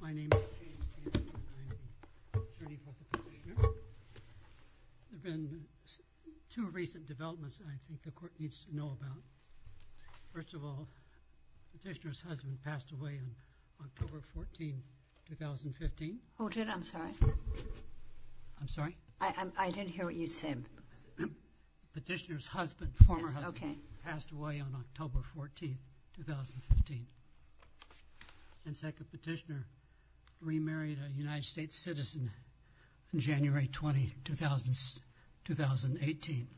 My name is James Sessions and I am an attorney for Petitioner. There have been two recent developments that I think the court needs to know about. First of all, Petitioner's husband passed away on October 14, 2015. Hold it, I'm sorry. I'm sorry? I didn't hear what you said. Petitioner's husband, former husband, passed away on October 14, 2015. And second, Petitioner remarried a United States citizen on January 20, 2018.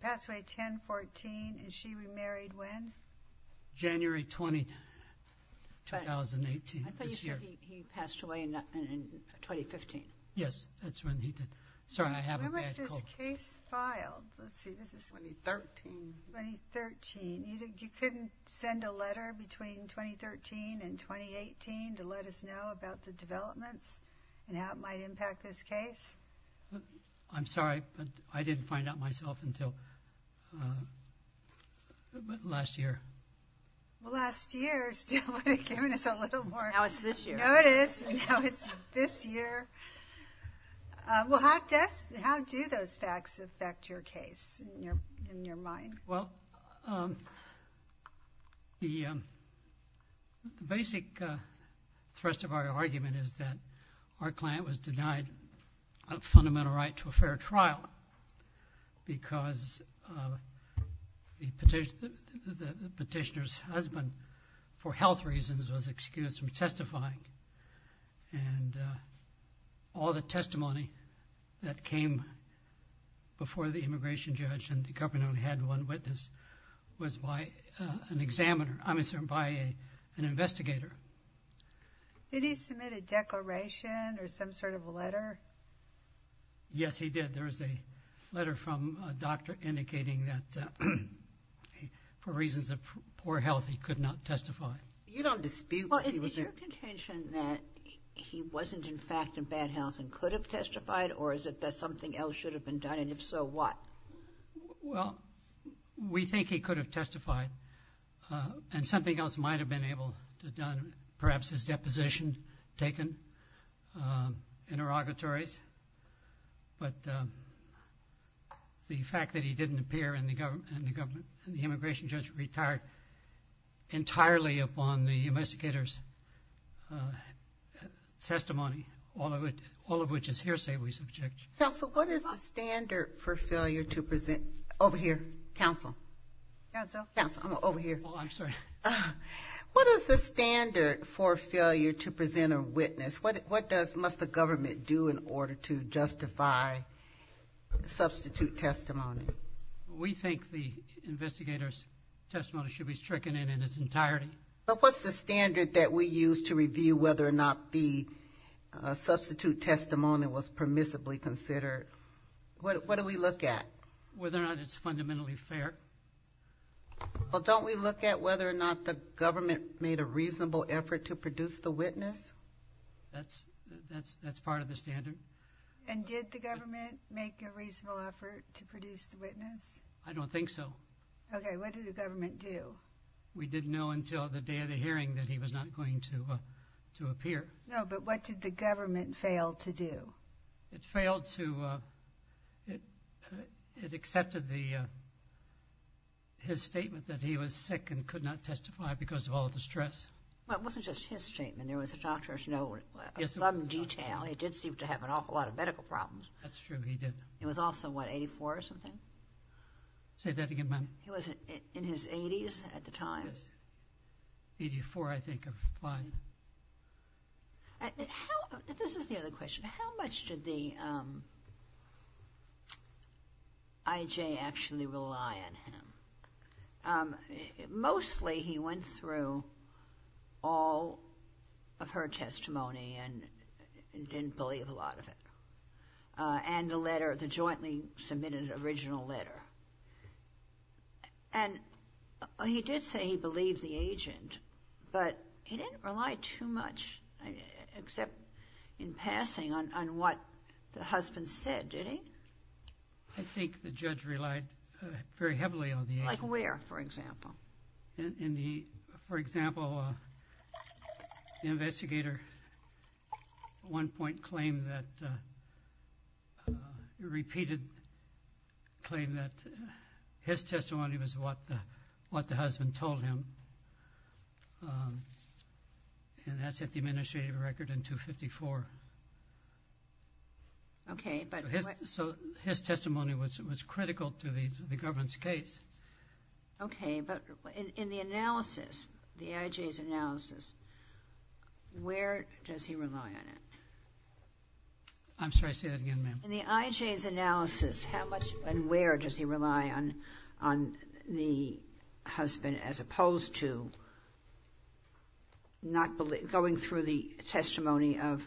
Passed away at 10, 14, and she remarried when? January 20, 2018. I thought you said he passed away in 2015. Yes, that's when he did. Sorry, I have a bad cold. When was this case filed? 2013. 2013. You couldn't send a letter between 2013 and 2018 to let us know about the developments and how it might impact this case? I'm sorry, but I didn't find out myself until last year. Well, last year still would have given us a little more notice. Now it's this year. Well, how do those facts affect your case in your mind? Well, the basic thrust of our argument is that our client was denied a fundamental right to a fair trial because the Petitioner's husband, for health reasons, was excused from the trial. And all the testimony that came before the immigration judge and the government only had one witness was by an examiner, I'm sorry, by an investigator. Did he submit a declaration or some sort of a letter? Yes, he did. There was a letter from a doctor indicating that for reasons of poor health, he could not testify. Well, is it your contention that he wasn't in fact in bad health and could have testified or is it that something else should have been done and if so, what? Well, we think he could have testified and something else might have been able to have done, perhaps his deposition taken in interrogatories. But the fact that he didn't on the investigator's testimony, all of which is hearsay, we subject. Counsel, what is the standard for failure to present? Over here, counsel. Counsel? Counsel, over here. Oh, I'm sorry. What is the standard for failure to present a witness? What must the government do in order to justify substitute testimony? We think the investigator's testimony should be stricken in its entirety. But what's the standard that we use to review whether or not the substitute testimony was permissibly considered? What do we look at? Whether or not it's fundamentally fair. Well, don't we look at whether or not the government made a reasonable effort to produce the witness? That's part of the standard. And did the government make a reasonable effort to produce the witness? I don't think so. Okay, what did the government do? We didn't know until the day of the hearing that he was not going to appear. No, but what did the government fail to do? It failed to, it accepted his statement that he was sick and could not testify because of all the stress. Well, it wasn't just his statement. There was a doctor's note of some detail. He did seem to have an awful lot of medical problems. That's true, he did. He was also, what, 84 or something? Say that again, ma'am. He was in his 80s at the time. He was 84, I think, of applying. This is the other question. How much did the IJ actually rely on him? Mostly, he went through all of her testimony and didn't believe a lot of it. And the letter, the jointly submitted original letter. And he did say he believed the agent, but he didn't rely too much, except in passing, on what the husband said, did he? I think the judge relied very heavily on the agent. Like where, for example? In the, for example, the investigator at one point claimed that, repeated, claimed that his testimony was what the husband told him. And that's at the administrative record in 254. Okay, but... So his testimony was critical to the government's case. Okay, but in the analysis, the IJ's analysis, where does he rely on it? I'm sorry, say that again, ma'am. In the IJ's analysis, how much and where does he rely on the husband, as opposed to going through the testimony of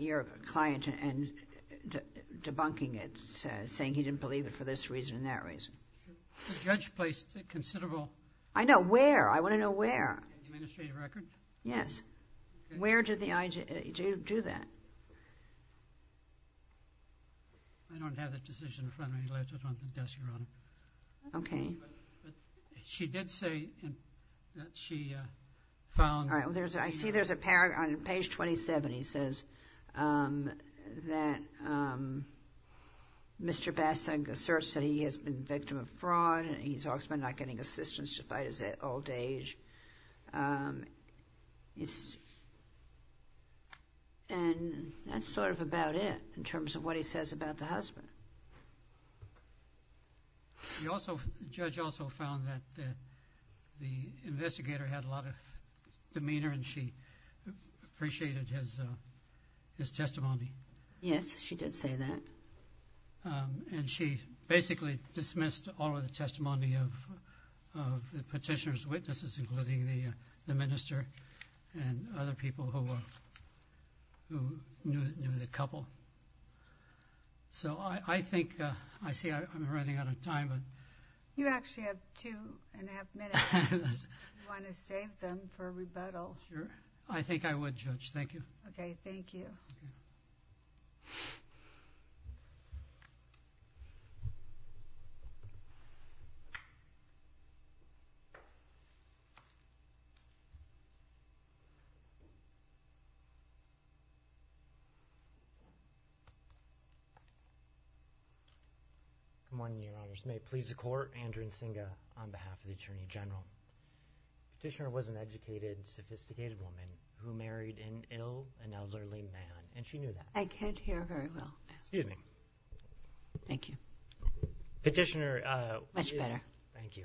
your client and debunking it, saying he didn't believe it for this reason and that reason? The judge placed considerable... I know, where? I want to know where. In the administrative record? Yes. Where did the IJ do that? I don't have that decision in front of me. I left it on the desk around... Okay. She did say that she found... I see there's a paragraph on page 27, he says, that Mr. Bassing asserts that he has been victim of fraud, he's also not getting assistance despite his old age. And that's sort of about it, in terms of what he says about the husband. The judge also found that the investigator had a lot of demeanor and she appreciated his testimony. Yes, she did say that. And she basically dismissed all of the testimony of the petitioner's witnesses, including the minister and other people who knew the couple. So I think... I see I'm running out of time. You actually have two and a half minutes. Do you want to save them for rebuttal? I think I would, Judge. Thank you. Okay, thank you. Good morning, Your Honors. May it please the Court. Andrew Nzinga on behalf of the Attorney General. Petitioner was an educated, sophisticated woman who married an ill and elderly man, and she knew that. I can't hear very well. Excuse me. Thank you. Petitioner... Much better. Thank you.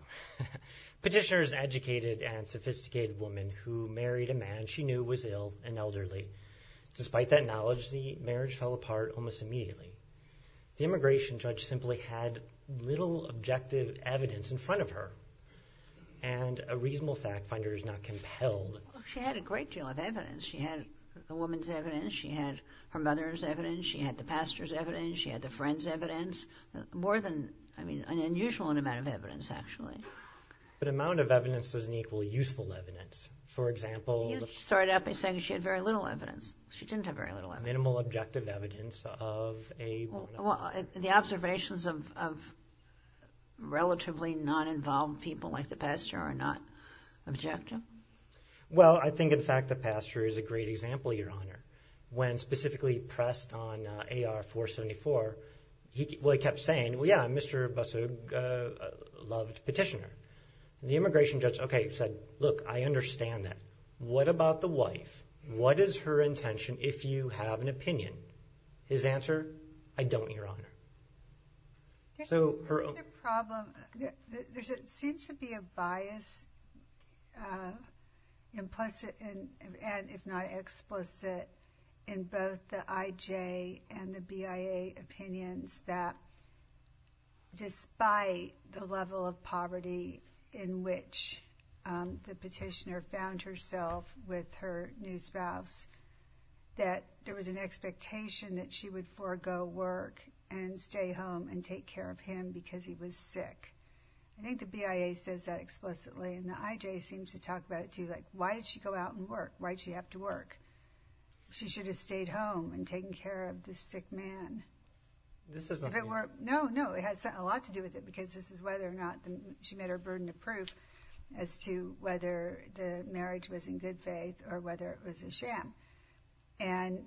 Despite that knowledge, the marriage fell apart almost immediately. The immigration judge simply had little objective evidence in front of her, and a reasonable fact finder is not compelled... She had a great deal of evidence. She had the woman's evidence. She had her mother's evidence. She had the pastor's evidence. She had the friend's evidence. More than... I mean, an unusual amount of evidence, actually. But amount of evidence doesn't equal useful evidence. For example... You started out by saying she had very little evidence. She didn't have very little evidence. Minimal objective evidence of a woman... Well, the observations of relatively non-involved people like the pastor are not objective. Well, I think, in fact, the pastor is a great example, Your Honor. When specifically pressed on AR-474, he kept saying, well, yeah, Mr. Busso loved Petitioner. The immigration judge said, okay, look, I understand that. What about the wife? What is her intention if you have an opinion? His answer, I don't, Your Honor. There's a problem. There seems to be a bias implicit and, if not explicit, in both the IJ and the BIA opinions that despite the level of poverty in which the Petitioner found herself with her new spouse, that there was an expectation that she would forego work and stay home and take care of him because he was sick. I think the BIA says that explicitly, and the IJ seems to talk about it, too. Like, why did she go out and work? Why did she have to work? She should have stayed home and taken care of this sick man. No, no, it has a lot to do with it because this is whether or not she made her burden of proof as to whether the marriage was in good faith or whether it was a sham. And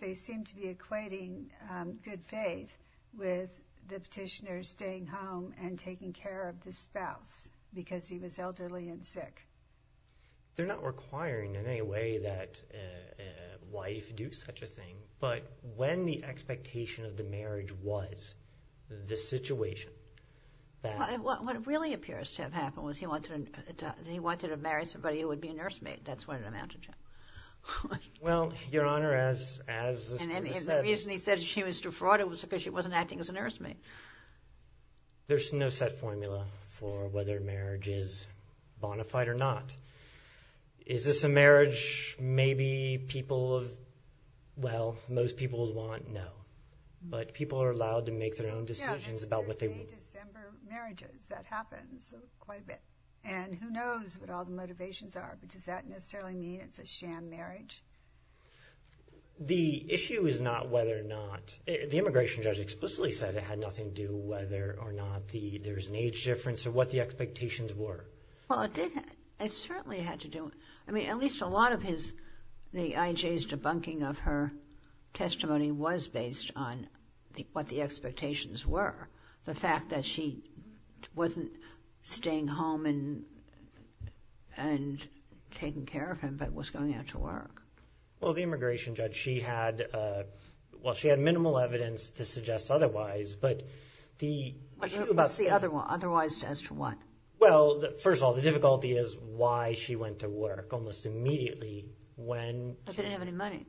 they seem to be equating good faith with the Petitioner staying home and taking care of the spouse because he was elderly and sick. They're not requiring in any way that a wife do such a thing, but when the expectation of the marriage was this situation, that— What really appears to have happened was he wanted to marry somebody who would be a nursemaid. That's what it amounted to. Well, Your Honor, as the Supreme Court said— And the reason he said she was defrauded was because she wasn't acting as a nursemaid. There's no set formula for whether marriage is bona fide or not. Is this a marriage maybe people—well, most people would want? No. But people are allowed to make their own decisions about what they want. Yeah, it's Thursday, December marriages. That happens quite a bit. And who knows what all the motivations are, but does that necessarily mean it's a sham marriage? The issue is not whether or not—the immigration judge explicitly said it had nothing to do whether or not there was an age difference or what the expectations were. Well, it did—it certainly had to do—I mean, at least a lot of his— the IJ's debunking of her testimony was based on what the expectations were. The fact that she wasn't staying home and taking care of him, but was going out to work. Well, the immigration judge, she had—well, she had minimal evidence to suggest otherwise, but the— What's the other one? Otherwise as to what? Well, first of all, the difficulty is why she went to work almost immediately when— She didn't have any money.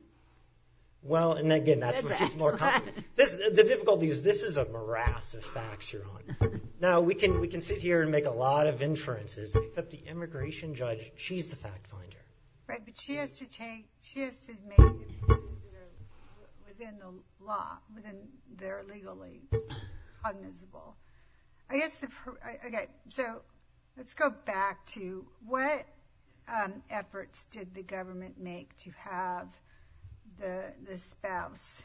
Well, and again, that's where she's more confident. The difficulty is this is a morass of facts you're on. Now, we can sit here and make a lot of inferences, except the immigration judge, she's the fact finder. Right, but she has to take—she has to make decisions within the law, within their legally cognizable. I guess the—okay, so let's go back to what efforts did the government make to have the spouse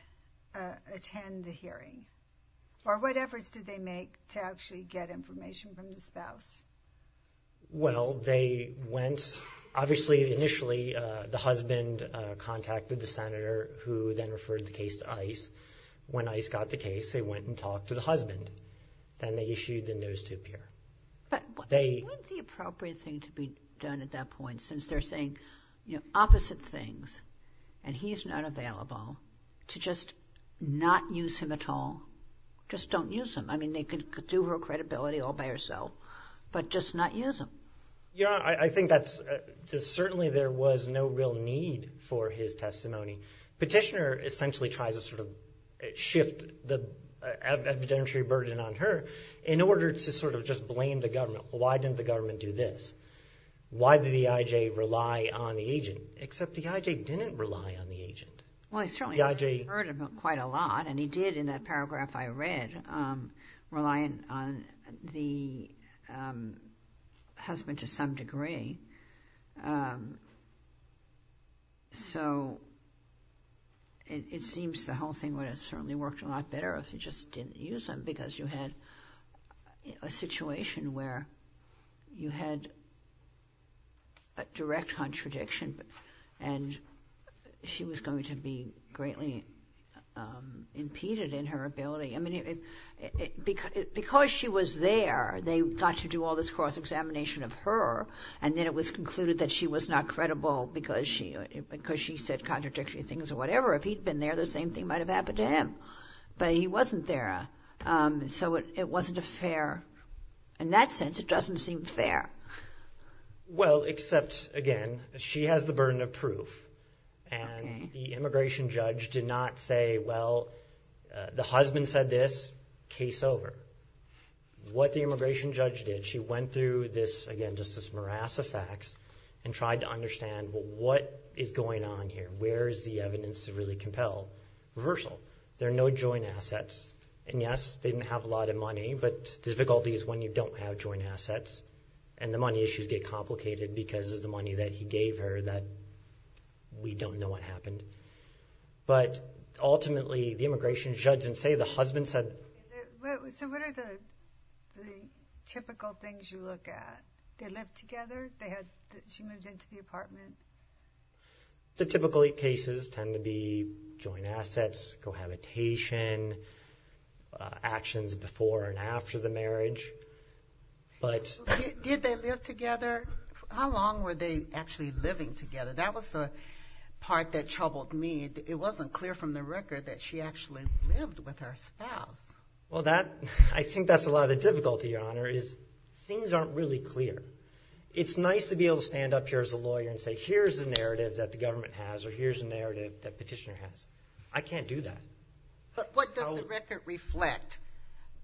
attend the hearing? Or what efforts did they make to actually get information from the spouse? Well, they went—obviously, initially, the husband contacted the senator who then referred the case to ICE. When ICE got the case, they went and talked to the husband, and they issued the notice to appear. But wasn't the appropriate thing to be done at that point since they're saying opposite things, and he's not available to just not use him at all? Just don't use him. I mean, they could do her credibility all by herself, but just not use him. Yeah, I think that's—certainly, there was no real need for his testimony. Petitioner essentially tries to sort of shift the evidentiary burden on her in order to sort of just blame the government. Why didn't the government do this? Why did the EIJ rely on the agent? Except the EIJ didn't rely on the agent. Well, he certainly heard about quite a lot, and he did in that paragraph I read, relying on the husband to some degree. So it seems the whole thing would have certainly worked a lot better if he just didn't use him because you had a situation where you had a direct contradiction, and she was going to be greatly impeded in her ability. Because she was there, they got to do all this cross-examination of her, and then it was concluded that she was not credible because she said contradictory things or whatever. If he'd been there, the same thing might have happened to him, but he wasn't there. So it wasn't a fair—in that sense, it doesn't seem fair. Well, except, again, she has the burden of proof, and the immigration judge did not say, well, the husband said this, case over. What the immigration judge did, she went through this, again, just this morass of facts and tried to understand, well, what is going on here? Where is the evidence to really compel reversal? There are no joint assets, and yes, they didn't have a lot of money, but the difficulty is when you don't have joint assets, and the money issues get complicated because of the money that he gave her that we don't know what happened. But ultimately, the immigration judge didn't say. The husband said— So what are the typical things you look at? They lived together? She moved into the apartment? The typical cases tend to be joint assets, cohabitation, actions before and after the marriage. Did they live together? How long were they actually living together? That was the part that troubled me. It wasn't clear from the record that she actually lived with her spouse. Well, I think that's a lot of the difficulty, Your Honor, is things aren't really clear. It's nice to be able to stand up here as a lawyer and say, here's the narrative that the government has or here's the narrative that Petitioner has. I can't do that. But what does the record reflect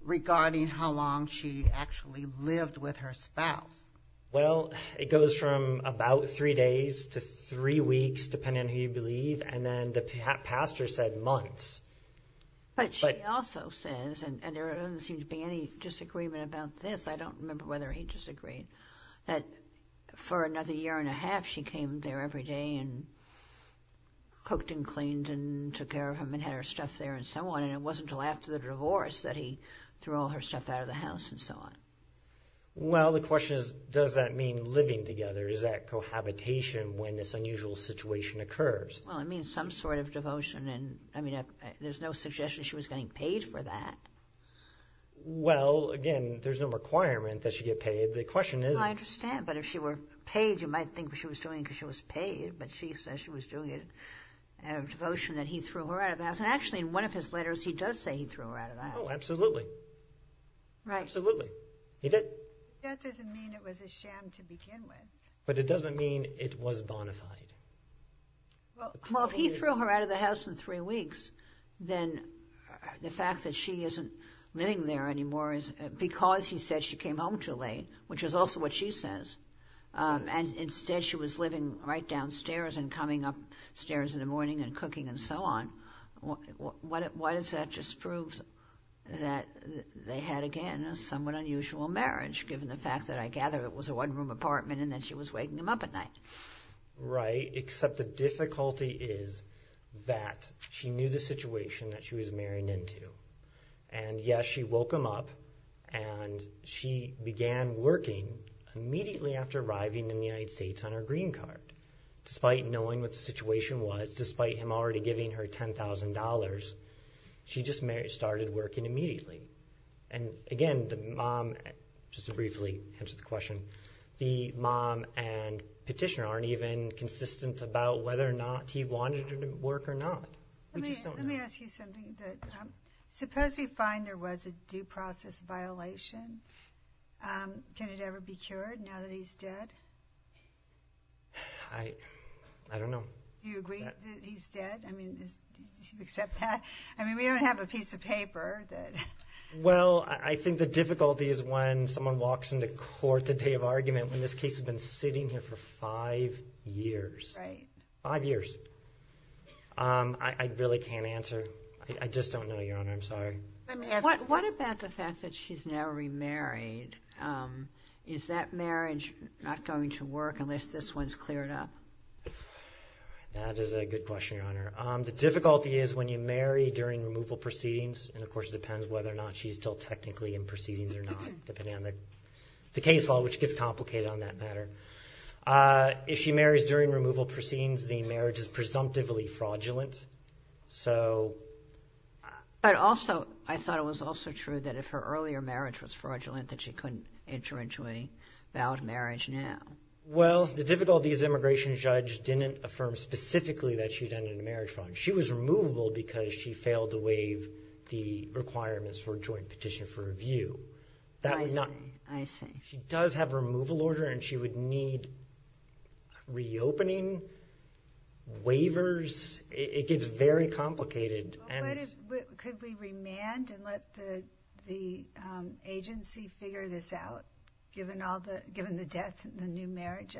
regarding how long she actually lived with her spouse? Well, it goes from about three days to three weeks, depending on who you believe, and then the pastor said months. But she also says, and there doesn't seem to be any disagreement about this. I don't remember whether he disagreed, that for another year and a half she came there every day and cooked and cleaned and took care of him and had her stuff there and so on, and it wasn't until after the divorce that he threw all her stuff out of the house and so on. Well, the question is, does that mean living together? Is that cohabitation when this unusual situation occurs? Well, it means some sort of devotion. I mean, there's no suggestion she was getting paid for that. Well, again, there's no requirement that she get paid. I understand, but if she were paid, you might think she was doing it because she was paid, but she says she was doing it out of devotion that he threw her out of the house. And actually in one of his letters he does say he threw her out of the house. Oh, absolutely. Absolutely. He did. That doesn't mean it was a sham to begin with. But it doesn't mean it was bona fide. Well, if he threw her out of the house in three weeks, then the fact that she isn't living there anymore is because he said she came home too late, which is also what she says. And instead she was living right downstairs and coming upstairs in the morning and cooking and so on. Why does that just prove that they had, again, a somewhat unusual marriage, given the fact that I gather it was a one-room apartment and that she was waking him up at night? Right, except the difficulty is that she knew the situation that she was married into. And, yes, she woke him up and she began working immediately after arriving in the United States on her green card. Despite knowing what the situation was, despite him already giving her $10,000, she just started working immediately. And, again, just to briefly answer the question, the mom and petitioner aren't even consistent about whether or not he wanted her to work or not. Let me ask you something. Suppose we find there was a due process violation. Can it ever be cured now that he's dead? I don't know. Do you agree that he's dead? I mean, do you accept that? I mean, we don't have a piece of paper. Well, I think the difficulty is when someone walks into court the day of argument when this case has been sitting here for five years. Right. Five years. I really can't answer. I just don't know, Your Honor. I'm sorry. What about the fact that she's now remarried? Is that marriage not going to work unless this one's cleared up? That is a good question, Your Honor. The difficulty is when you marry during removal proceedings, and, of course, it depends whether or not she's still technically in proceedings or not, depending on the case law, which gets complicated on that matter. If she marries during removal proceedings, the marriage is presumptively fraudulent. But also I thought it was also true that if her earlier marriage was fraudulent that she couldn't enter into a valid marriage now. Well, the difficulty is the immigration judge didn't affirm specifically that she'd entered into a marriage fraud. She was removable because she failed to waive the requirements for a joint petition for review. I see. I see. She does have removal order, and she would need reopening, waivers. It gets very complicated. Could we remand and let the agency figure this out, given the death and the new marriage?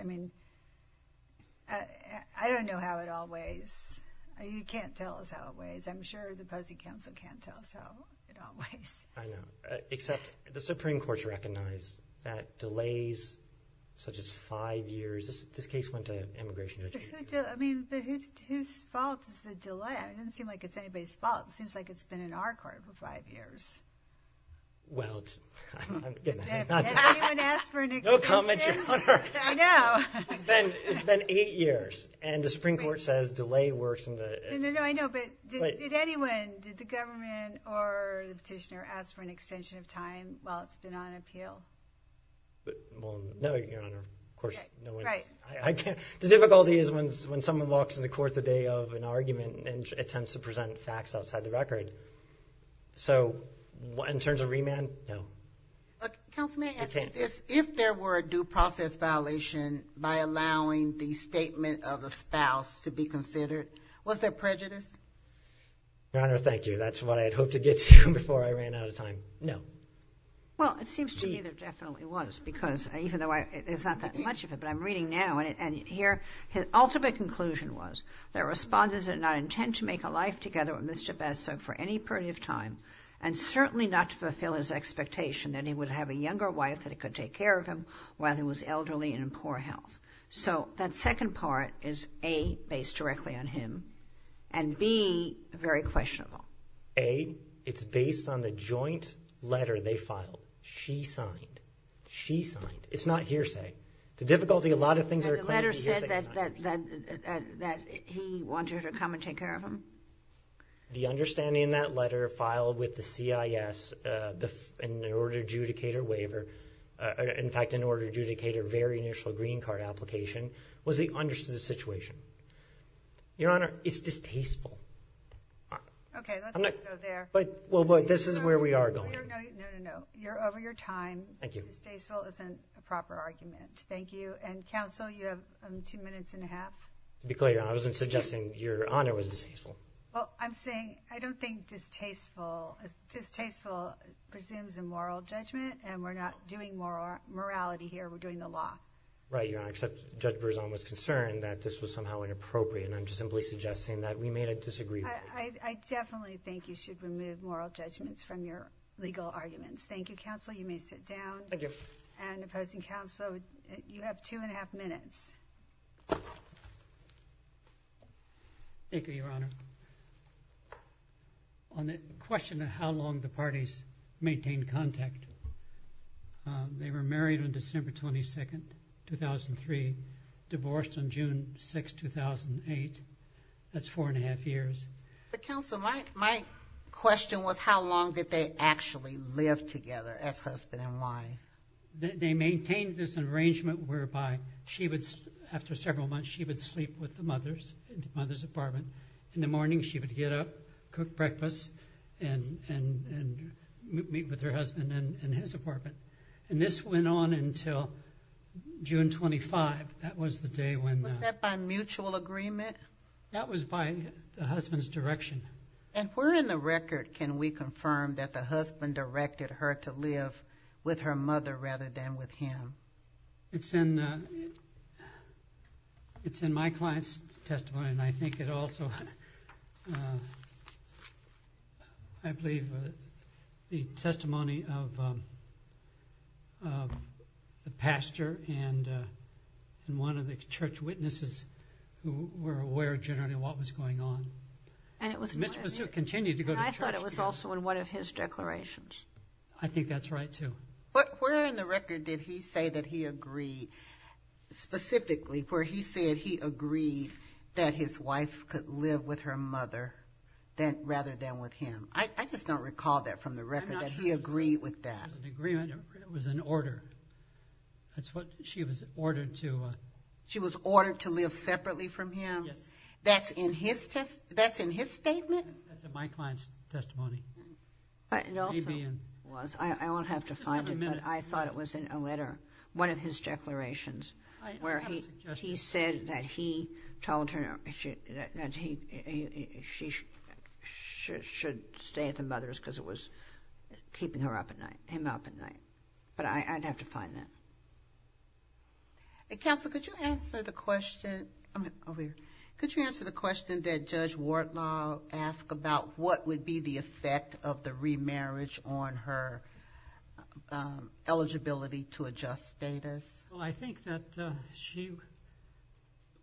I don't know how it all weighs. You can't tell us how it weighs. I'm sure the POSI counsel can't tell us how it all weighs. I know. Except the Supreme Court's recognized that delays such as five years. This case went to immigration judges. I mean, whose fault is the delay? It doesn't seem like it's anybody's fault. It seems like it's been in our court for five years. Well, I'm not going to say that. Has anyone asked for an explanation? No comment, Your Honor. I know. It's been eight years, and the Supreme Court says delay works. I know, but did anyone, did the government or the petitioner, ask for an extension of time while it's been on appeal? No, Your Honor. Of course, no one. The difficulty is when someone walks into court the day of an argument and attempts to present facts outside the record. So in terms of remand, no. Counsel, may I ask you this? If there were a due process violation by allowing the statement of a spouse to be considered, was there prejudice? Your Honor, thank you. That's what I had hoped to get to before I ran out of time. No. Well, it seems to me there definitely was, because even though there's not that much of it, but I'm reading now, and here his ultimate conclusion was, there were sponsors that did not intend to make a life together with Mr. Besser for any period of time, and certainly not to fulfill his expectation that he would have a younger wife that could take care of him while he was elderly and in poor health. So that second part is, A, based directly on him, and B, very questionable. A, it's based on the joint letter they filed. She signed. She signed. It's not hearsay. The difficulty, a lot of things are claimed to be hearsay. The letter said that he wanted her to come and take care of him? The understanding in that letter filed with the CIS in order to adjudicate her very initial green card application, was he understood the situation? Your Honor, it's distasteful. Okay, let's not go there. Well, but this is where we are going. No, no, no. You're over your time. Thank you. Distasteful isn't a proper argument. Thank you. And counsel, you have two minutes and a half. To be clear, I wasn't suggesting your Honor was distasteful. Well, I'm saying, I don't think distasteful, distasteful presumes a moral judgment, and we're not doing morality here. We're doing the law. Right, Your Honor. Except Judge Berzon was concerned that this was somehow inappropriate, and I'm just simply suggesting that we made a disagreement. I definitely think you should remove moral judgments from your legal arguments. Thank you, counsel. You may sit down. Thank you. And opposing counsel, you have two and a half minutes. Thank you, Your Honor. On the question of how long the parties maintained contact, they were married on December 22nd, 2003, divorced on June 6th, 2008. That's four and a half years. But, counsel, my question was how long did they actually live together as husband and wife? They maintained this arrangement whereby she would, after several months, she would sleep with the mothers in the mother's apartment. In the morning she would get up, cook breakfast, and meet with her husband in his apartment. And this went on until June 25th. That was the day when the ñ Was that by mutual agreement? That was by the husband's direction. And where in the record can we confirm that the husband directed her to live with her mother rather than with him? It's in my client's testimony, and I think it also, I believe, the testimony of the pastor and one of the church witnesses who were aware, generally, of what was going on. And it was also in one of his declarations. I think that's right, too. But where in the record did he say that he agreed, specifically where he said he agreed that his wife could live with her mother rather than with him? I just don't recall that from the record, that he agreed with that. It was an agreement. It was an order. That's what she was ordered to ñ She was ordered to live separately from him? Yes. That's in his ñ that's in his statement? That's in my client's testimony. It also was. I won't have to find it, but I thought it was in a letter, one of his declarations where he said that he told her that she should stay at the mother's because it was keeping her up at night, him up at night. But I'd have to find that. Counsel, could you answer the question? Over here. Could you answer the question that Judge Wardlaw asked about what would be the effect of the remarriage on her eligibility to adjust status? I think that she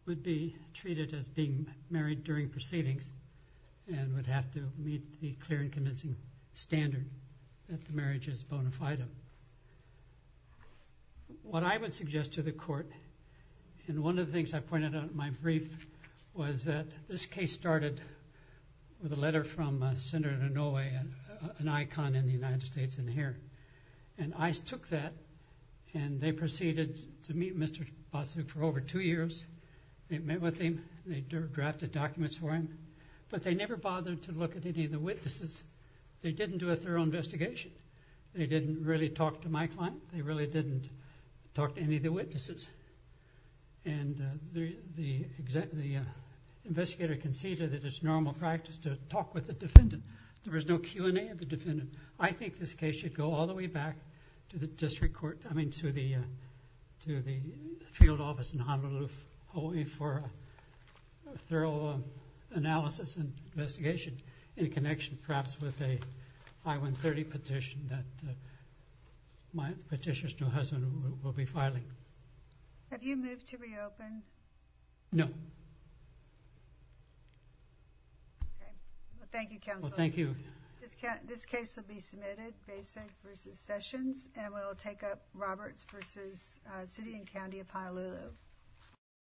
would be treated as being married during proceedings and would have to meet the clear and convincing standard that the marriage is bona fide. What I would suggest to the court, and one of the things I pointed out in my brief, was that this case started with a letter from Senator Inouye, an icon in the United States in here, and ICE took that and they proceeded to meet Mr. Boswick for over two years. They met with him. They drafted documents for him, but they never bothered to look at any of the witnesses. They didn't do a thorough investigation. They didn't really talk to my client. They really didn't talk to any of the witnesses, and the investigator conceded that it's normal practice to talk with the defendant. There was no Q&A of the defendant. I think this case should go all the way back to the field office in Honolulu only for a thorough analysis and investigation in connection perhaps with a I-130 petition that my petitioner's new husband will be filing. Have you moved to reopen? No. Okay. Well, thank you, Counselor. Well, thank you. This case will be submitted. Basic v. Sessions, and we'll take up Roberts v. City and County of Honolulu.